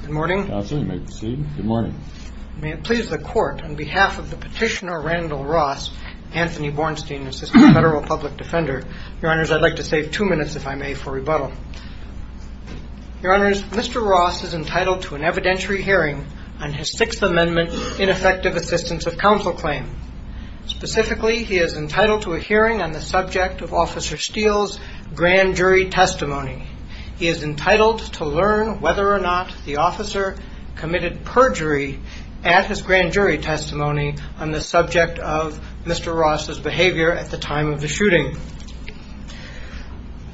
Good morning. May it please the court, on behalf of the petitioner Randall Ross, Anthony Bornstein, Assistant Federal Public Defender, Your Honors, I'd like to save two minutes, if I may, for rebuttal. Your Honors, Mr. Ross is entitled to an evidentiary hearing on his Sixth Amendment ineffective assistance of counsel claim. Specifically, he is entitled to a hearing on the subject of Officer Steele's grand jury testimony. He is entitled to learn whether or not the officer committed perjury at his grand jury testimony on the subject of Mr. Ross' behavior at the time of the shooting.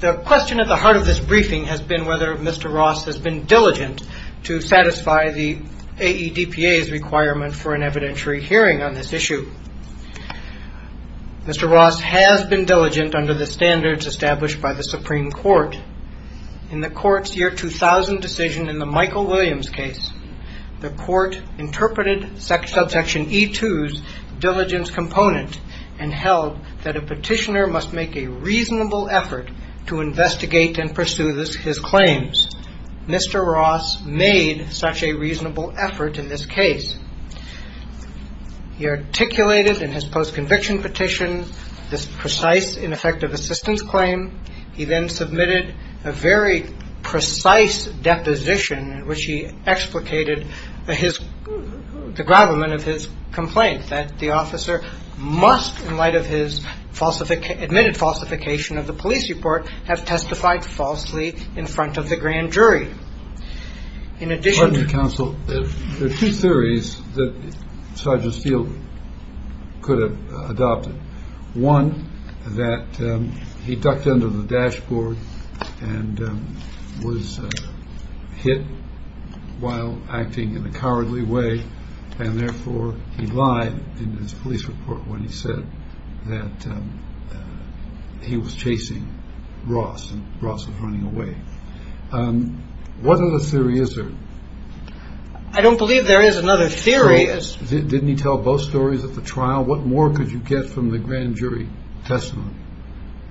The question at the heart of this briefing has been whether Mr. Ross has been diligent to satisfy the AEDPA's requirement for an evidentiary hearing on this issue. Mr. Ross has been diligent under the standards established by the Supreme Court. In the court's year 2000 decision in the Michael Williams case, the court interpreted subsection E2's diligence component and held that a petitioner must make a reasonable effort to investigate and pursue his claims. Mr. Ross made such a reasonable effort in this case. He articulated in his post-conviction petition this precise ineffective assistance claim. He then submitted a very precise deposition in which he explicated the gravamen of his complaint that the officer must, in light of his admitted falsification of the police report, have testified falsely in front of the grand jury. Pardon me, counsel. There are two theories that Sergeant Steele could have adopted. One, that he ducked under the dashboard and was hit while acting in a cowardly way, and therefore he lied in his police report when he said that he was chasing Ross and Ross was running away. What other theory is there? I don't believe there is another theory. Didn't he tell both stories at the trial? What more could you get from the grand jury testimony?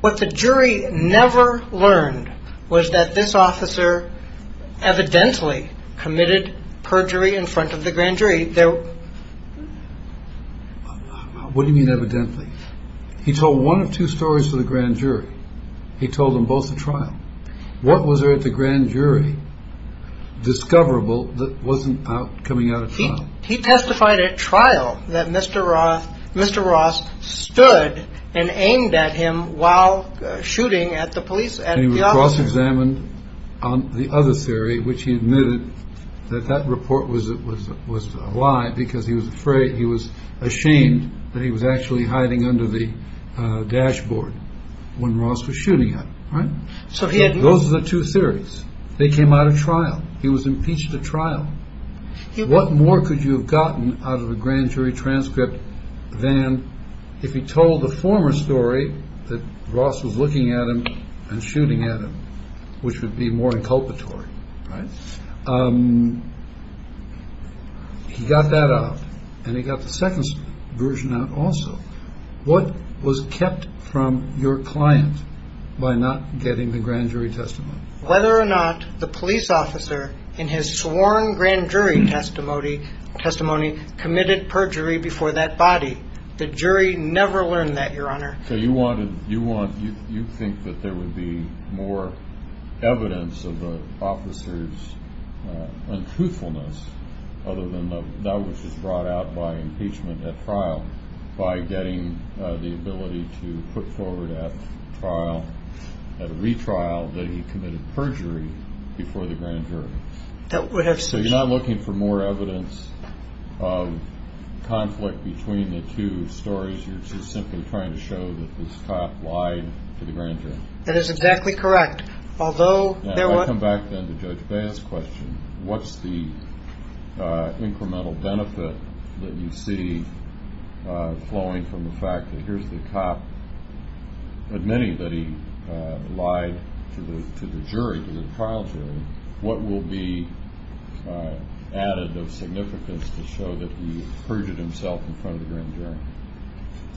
What the jury never learned was that this officer evidently committed perjury in front of the grand jury. What do you mean evidently? He told one of two stories to the grand jury. He told them both at trial. What was there at the grand jury discoverable that wasn't coming out of trial? He testified at trial that Mr. Ross stood and aimed at him while shooting at the police and the officer. On the other theory, which he admitted that that report was it was was a lie because he was afraid he was ashamed that he was actually hiding under the dashboard when Ross was shooting at him. Right. So those are the two theories. They came out of trial. He was impeached at trial. What more could you have gotten out of a grand jury transcript than if he told the former story that Ross was looking at him and shooting at him, which would be more inculpatory. He got that out and he got the second version out also. What was kept from your client by not getting the grand jury testimony? Whether or not the police officer in his sworn grand jury testimony testimony committed perjury before that body. The jury never learned that your honor. So you wanted you want you think that there would be more evidence of the officers untruthfulness other than that was just brought out by impeachment at trial by getting the ability to put forward at trial at a retrial that he committed perjury before the grand jury. So you're not looking for more evidence of conflict between the two stories. You're just simply trying to show that this cop lied to the grand jury. That is exactly correct. I come back to Judge Bass question. What's the incremental benefit that you see flowing from the fact that here's the cop admitting that he lied to the jury, to the trial jury? What will be added of significance to show that he perjured himself in front of the grand jury?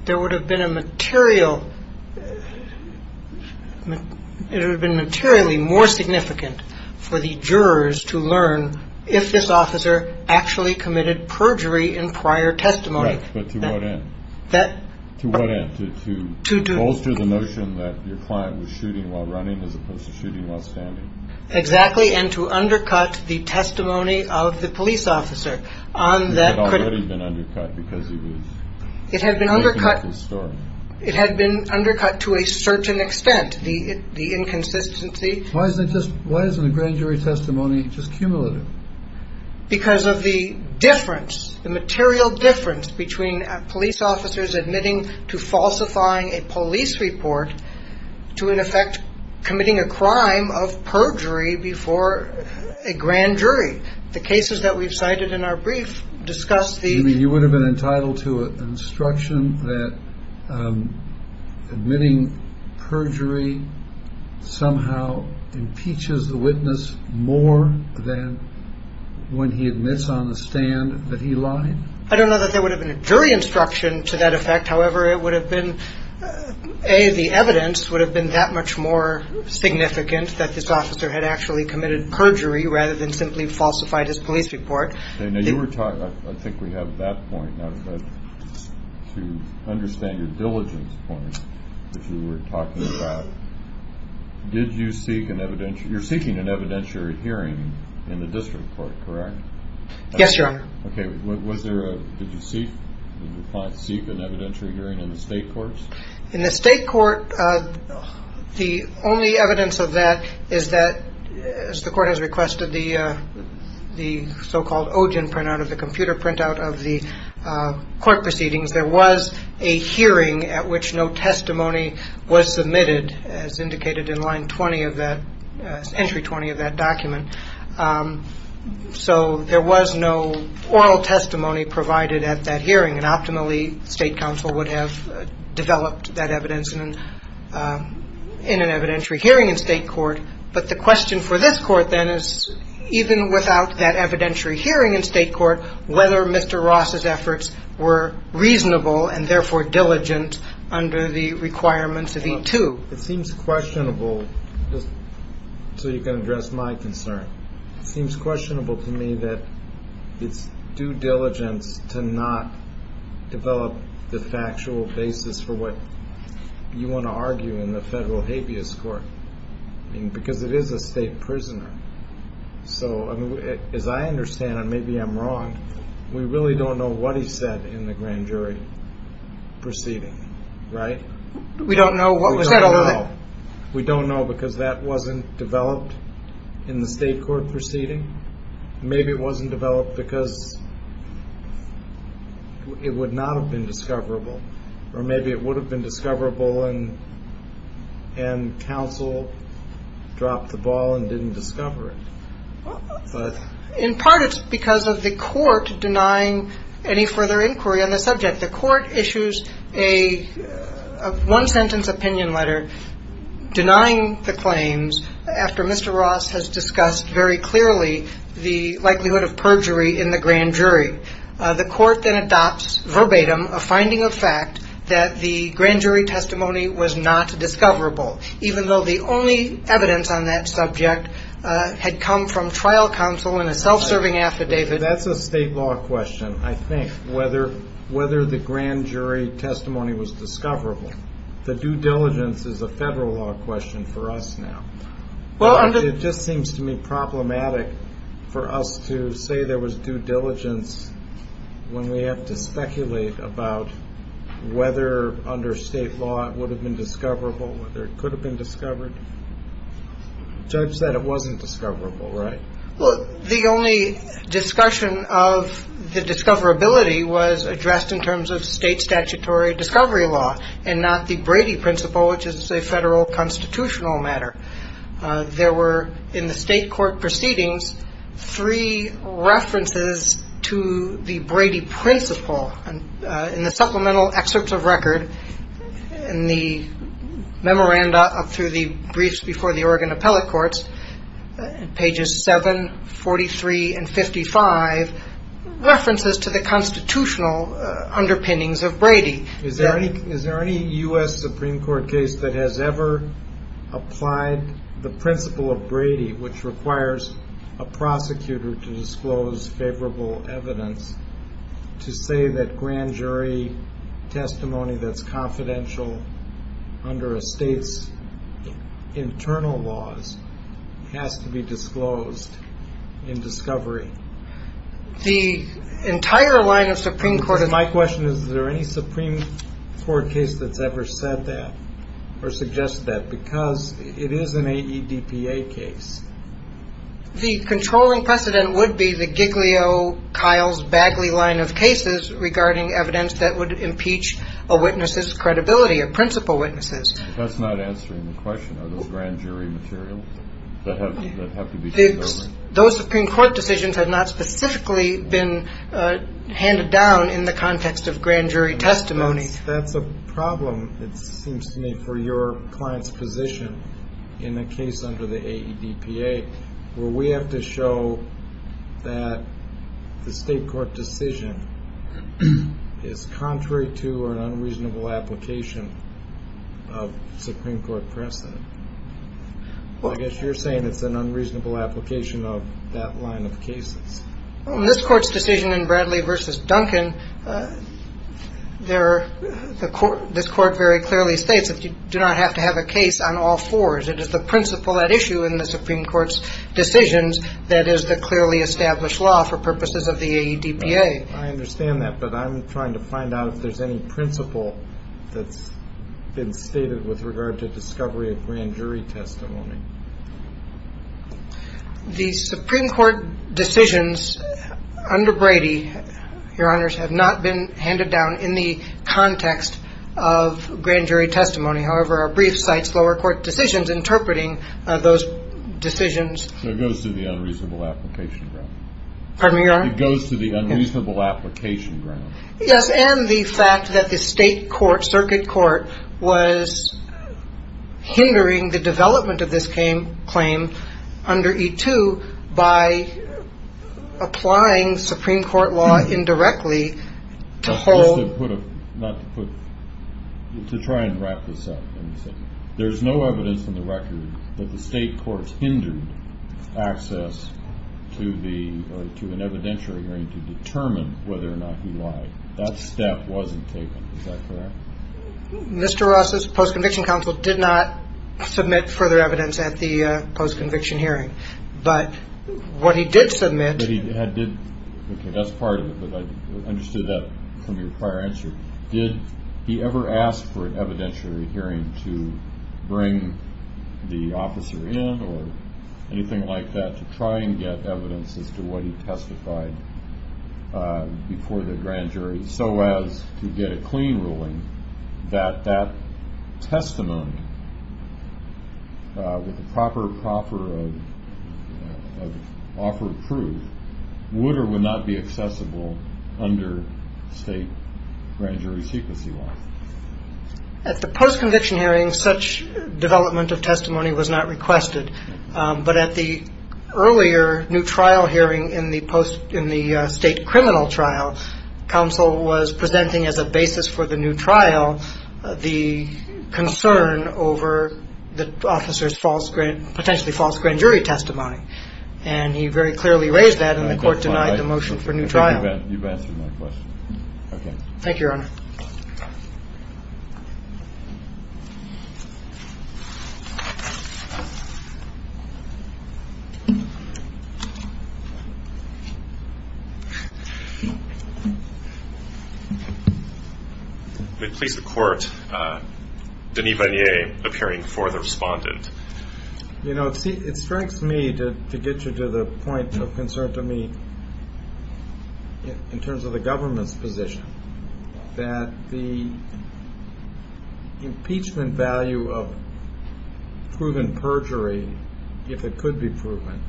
There would have been a material. It would have been materially more significant for the jurors to learn if this officer actually committed perjury in prior testimony. But to what end? To what end? To bolster the notion that your client was shooting while running as opposed to shooting while standing? Exactly. And to undercut the testimony of the police officer on that. It had been undercut. It had been undercut to a certain extent. The inconsistency. Why is it just why isn't the grand jury testimony just cumulative? Because of the difference, the material difference between police officers admitting to falsifying a police report to in effect committing a crime of perjury before a grand jury. The cases that we've cited in our brief discuss the. You would have been entitled to an instruction that admitting perjury somehow impeaches the witness more than when he admits on the stand that he lied. I don't know that there would have been a jury instruction to that effect. However, it would have been a the evidence would have been that much more significant that this officer had actually committed perjury rather than simply falsified his police report. Now you were talking. I think we have that point to understand your diligence point. If you were talking about did you seek an evident you're seeking an evidentiary hearing in the district court. Yes, you're OK. Was there a. Did you see. Seek an evidentiary hearing in the state courts in the state court. The only evidence of that is that the court has requested the the so-called Ogden printout of the computer printout of the court proceedings. There was a hearing at which no testimony was submitted as indicated in line 20 of that entry 20 of that document. So there was no oral testimony provided at that hearing and optimally state council would have developed that evidence in an evidentiary hearing in state court. But the question for this court then is even without that evidentiary hearing in state court, whether Mr. Ross's efforts were reasonable and therefore diligent under the requirements of the two. It seems questionable. So you can address my concern. Seems questionable to me that it's due diligence to not develop the factual basis for what you want to argue in the federal habeas court. And because it is a state prisoner. So as I understand it, maybe I'm wrong. We really don't know what he said in the grand jury proceeding. Right. We don't know what we said. We don't know because that wasn't developed in the state court proceeding. Maybe it wasn't developed because it would not have been discoverable or maybe it would have been discoverable. And and counsel dropped the ball and didn't discover it. In part, it's because of the court denying any further inquiry on the subject. The court issues a one sentence opinion letter denying the claims after Mr. Ross has discussed very clearly the likelihood of perjury in the grand jury. The court then adopts verbatim a finding of fact that the grand jury testimony was not discoverable, even though the only evidence on that subject had come from trial counsel in a self-serving affidavit. That's a state law question. I think whether whether the grand jury testimony was discoverable. The due diligence is a federal law question for us now. Well, it just seems to me problematic for us to say there was due diligence. When we have to speculate about whether under state law, it would have been discoverable, whether it could have been discovered. Judge said it wasn't discoverable, right? Well, the only discussion of the discoverability was addressed in terms of state statutory discovery law and not the Brady principle, which is a federal constitutional matter. There were in the state court proceedings, three references to the Brady principle and in the supplemental excerpts of record in the memoranda up through the briefs before the Oregon appellate courts, pages 7, 43 and 55, references to the constitutional underpinnings of Brady. Is there any is there any U.S. Supreme Court case that has ever applied the principle of Brady, which requires a prosecutor to disclose favorable evidence to say that grand jury testimony that's confidential under a state's internal laws has to be disclosed in discovery? The entire line of Supreme Court. My question is, is there any Supreme Court case that's ever said that or suggest that because it is an AEDPA case? The controlling precedent would be the Giglio Kyle's Bagley line of cases regarding evidence that would impeach a witness's credibility of principal witnesses. That's not answering the question. Are those grand jury material that have to be fixed? Those Supreme Court decisions have not specifically been handed down in the context of grand jury testimony. That's a problem, it seems to me, for your client's position in a case under the AEDPA where we have to show that the state court decision is contrary to an unreasonable application of Supreme Court precedent. Well, I guess you're saying it's an unreasonable application of that line of cases on this court's decision in Bradley versus Duncan. There are the court. This court very clearly states that you do not have to have a case on all fours. It is the principle at issue in the Supreme Court's decisions. That is the clearly established law for purposes of the AEDPA. I understand that, but I'm trying to find out if there's any principle that's been stated with regard to discovery of grand jury testimony. The Supreme Court decisions under Brady, Your Honors, have not been handed down in the context of grand jury testimony. However, our brief cites lower court decisions interpreting those decisions. It goes to the unreasonable application ground. Pardon me, Your Honor? It goes to the unreasonable application ground. Yes, and the fact that the state court, circuit court, was hindering the development of this claim under E-2 by applying Supreme Court law indirectly to hold. To try and wrap this up, there's no evidence in the record that the state courts hindered access to an evidentiary hearing to determine whether or not he lied. That step wasn't taken. Is that correct? Mr. Ross's post-conviction counsel did not submit further evidence at the post-conviction hearing, but what he did submit. That's part of it, but I understood that from your prior answer. Did he ever ask for an evidentiary hearing to bring the officer in or anything like that to try and get evidence as to what he testified before the grand jury, so as to get a clean ruling that that testimony with the proper offer of proof would or would not be accessible under state grand jury secrecy law? At the post-conviction hearing, such development of testimony was not requested, but at the earlier new trial hearing in the state criminal trial, counsel was presenting as a basis for the new trial the concern over the officer's potentially false grand jury testimony, and he very clearly raised that, and the court denied the motion for new trial. I think you've answered my question. Thank you, Your Honor. I'm going to please the court. Denis Bagnier, appearing before the respondent. You know, it strikes me, to get you to the point of concern to me, in terms of the government's position, that the impeachment value of proven perjury, if it could be proven,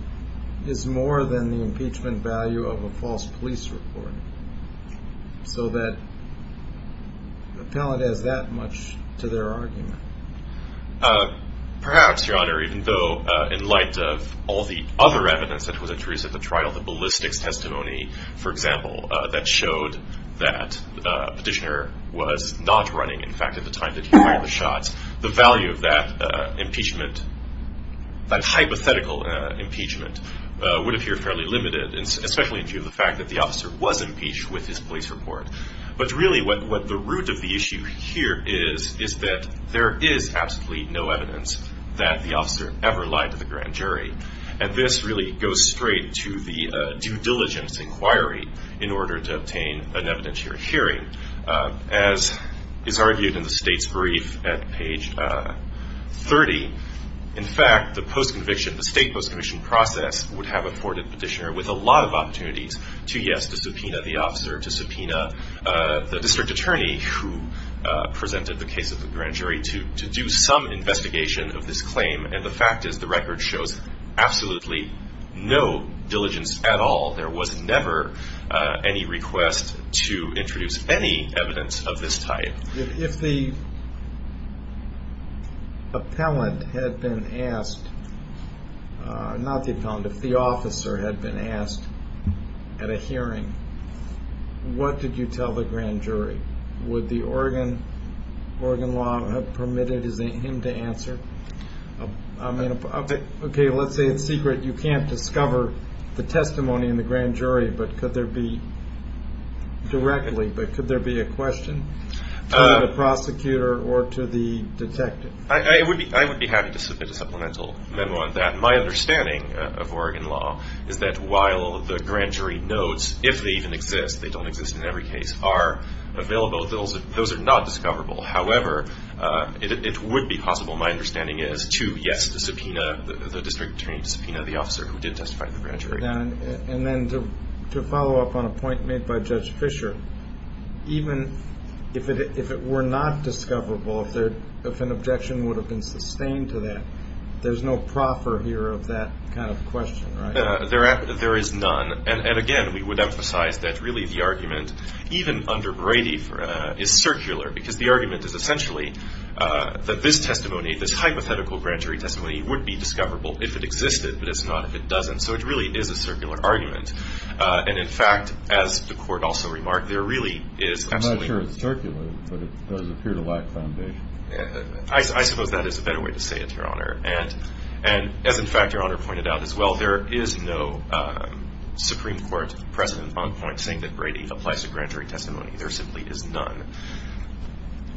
is more than the impeachment value of a false police report, so that appellate has that much to their argument. Perhaps, Your Honor, even though in light of all the other evidence that was introduced at the trial, the ballistics testimony, for example, that showed that Petitioner was not running, in fact, at the time that he fired the shots, the value of that impeachment, that hypothetical impeachment, would appear fairly limited, especially in view of the fact that the officer was impeached with his police report. But really, what the root of the issue here is, is that there is absolutely no evidence that the officer ever lied to the grand jury, and this really goes straight to the due diligence inquiry in order to obtain an evidentiary hearing. As is argued in the State's brief at page 30, in fact, the post-conviction, the State post-conviction process would have afforded Petitioner with a lot of opportunities to, yes, to subpoena the officer, to subpoena the district attorney who presented the case at the grand jury to do some investigation of this claim, and the fact is the record shows absolutely no diligence at all. There was never any request to introduce any evidence of this type. If the appellant had been asked, not the appellant, if the officer had been asked at a hearing, what did you tell the grand jury? Would the Oregon law have permitted him to answer? Okay, let's say it's secret. You can't discover the testimony in the grand jury, but could there be directly, but could there be a question to the prosecutor or to the detective? I would be happy to submit a supplemental memo on that. My understanding of Oregon law is that while the grand jury notes, if they even exist, they don't exist in every case, are available, those are not discoverable. However, it would be possible, my understanding is, to, yes, to subpoena the district attorney, to subpoena the officer who did testify at the grand jury. And then to follow up on a point made by Judge Fisher, even if it were not discoverable, if an objection would have been sustained to that, there's no proffer here of that kind of question, right? There is none. And, again, we would emphasize that, really, the argument, even under Brady, is circular, because the argument is essentially that this testimony, this hypothetical grand jury testimony, would be discoverable if it existed, but it's not if it doesn't. So it really is a circular argument. And, in fact, as the Court also remarked, there really is absolutely no- I'm not sure it's circular, but it does appear to lack foundation. I suppose that is a better way to say it, Your Honor. And, as, in fact, Your Honor pointed out as well, there is no Supreme Court precedent on point saying that Brady applies to grand jury testimony. There simply is none.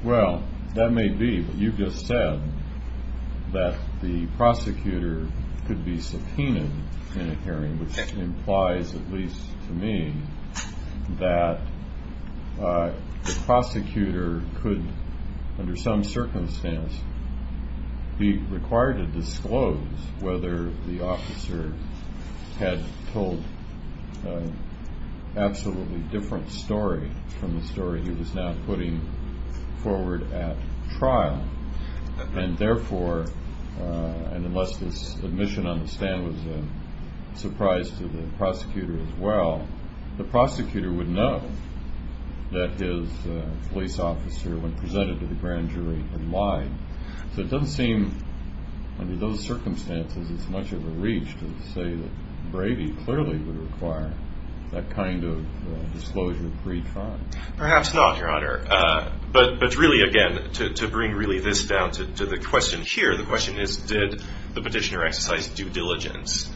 Well, that may be, but you've just said that the prosecutor could be subpoenaed in a hearing, which implies, at least to me, that the prosecutor could, under some circumstance, be required to disclose whether the officer had told an absolutely different story from the story he was now putting forward at trial. And, therefore, unless this admission on the stand was a surprise to the prosecutor as well, the prosecutor would know that his police officer, when presented to the grand jury, had lied. So it doesn't seem, under those circumstances, it's much of a reach to say that Brady clearly would require that kind of disclosure pre-trial. Perhaps not, Your Honor. But, really, again, to bring really this down to the question here, the question is did the petitioner exercise due diligence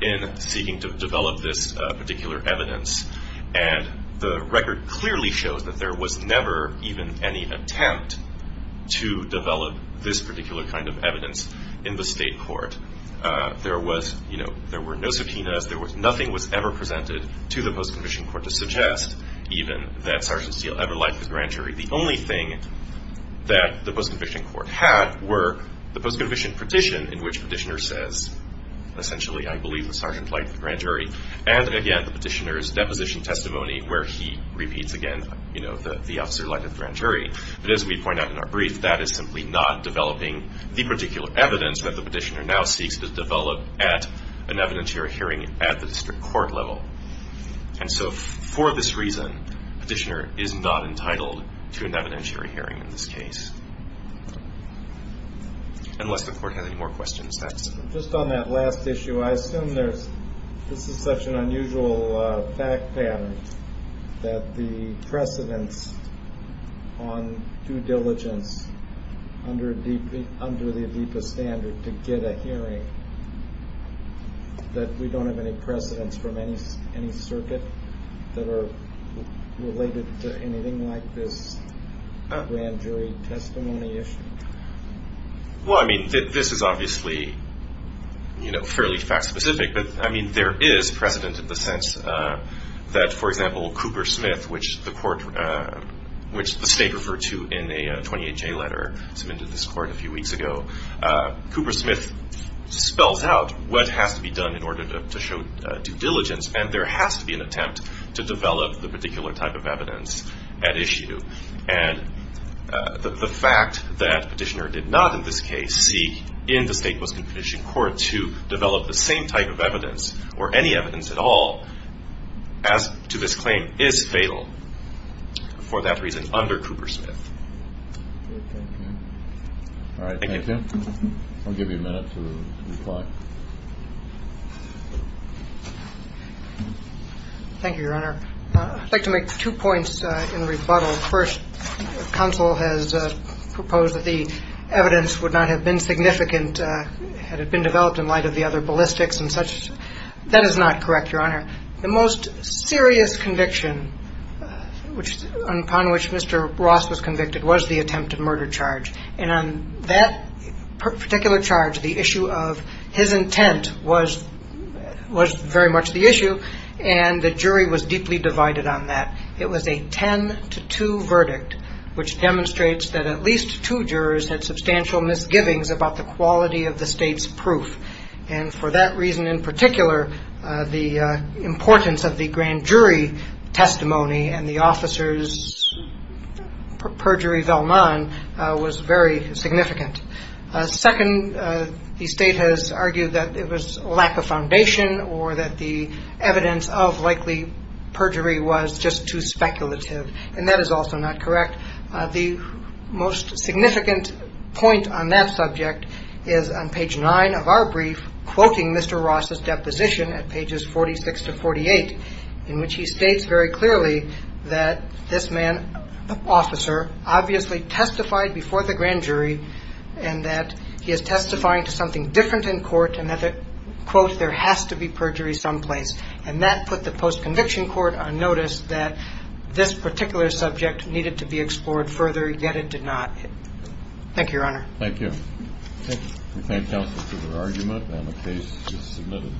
in seeking to develop this particular evidence? And the record clearly shows that there was never even any attempt to develop this particular kind of evidence in the state court. There were no subpoenas. Nothing was ever presented to the post-conviction court to suggest even that Sergeant Steele ever lied to the grand jury. The only thing that the post-conviction court had were the post-conviction petition, in which the petitioner says, essentially, I believe the sergeant lied to the grand jury, and, again, the petitioner's deposition testimony where he repeats again the officer lied to the grand jury. But, as we point out in our brief, that is simply not developing the particular evidence that the petitioner now seeks to develop at an evidentiary hearing at the district court level. And so, for this reason, petitioner is not entitled to an evidentiary hearing in this case. Unless the court has any more questions. Just on that last issue, I assume this is such an unusual fact pattern, that the precedence on due diligence under the ADIPA standard to get a hearing, that we don't have any precedence from any circuit that are related to anything like this grand jury testimony issue? Well, I mean, this is obviously, you know, fairly fact-specific, but, I mean, there is precedent in the sense that, for example, Cooper Smith, which the state referred to in a 28-J letter submitted to this court a few weeks ago, Cooper Smith spells out what has to be done in order to show due diligence, and there has to be an attempt to develop the particular type of evidence at issue. And the fact that petitioner did not, in this case, seek in the State Post-Confiscation Court to develop the same type of evidence, or any evidence at all, as to this claim, is fatal for that reason under Cooper Smith. All right. Thank you. I'll give you a minute to reply. Thank you, Your Honor. I'd like to make two points in rebuttal. First, counsel has proposed that the evidence would not have been significant had it been developed in light of the other ballistics and such. That is not correct, Your Honor. The most serious conviction upon which Mr. Ross was convicted was the attempted murder charge. And on that particular charge, the issue of his intent was very much the issue, and the jury was deeply divided on that. It was a 10-2 verdict, which demonstrates that at least two jurors had substantial misgivings about the quality of the State's proof. And for that reason in particular, the importance of the grand jury testimony and the officers' perjury vellemin was very significant. Second, the State has argued that it was lack of foundation or that the evidence of likely perjury was just too speculative. And that is also not correct. The most significant point on that subject is on page 9 of our brief, quoting Mr. Ross's deposition at pages 46 to 48, in which he states very clearly that this man, the officer, obviously testified before the grand jury and that he is testifying to something different in court and that, quote, there has to be perjury someplace. And that put the post-conviction court on notice that this particular subject needed to be explored further, yet it did not. Thank you, Your Honor. Thank you. Thank you. We thank counsel for their argument, and the case is submitted.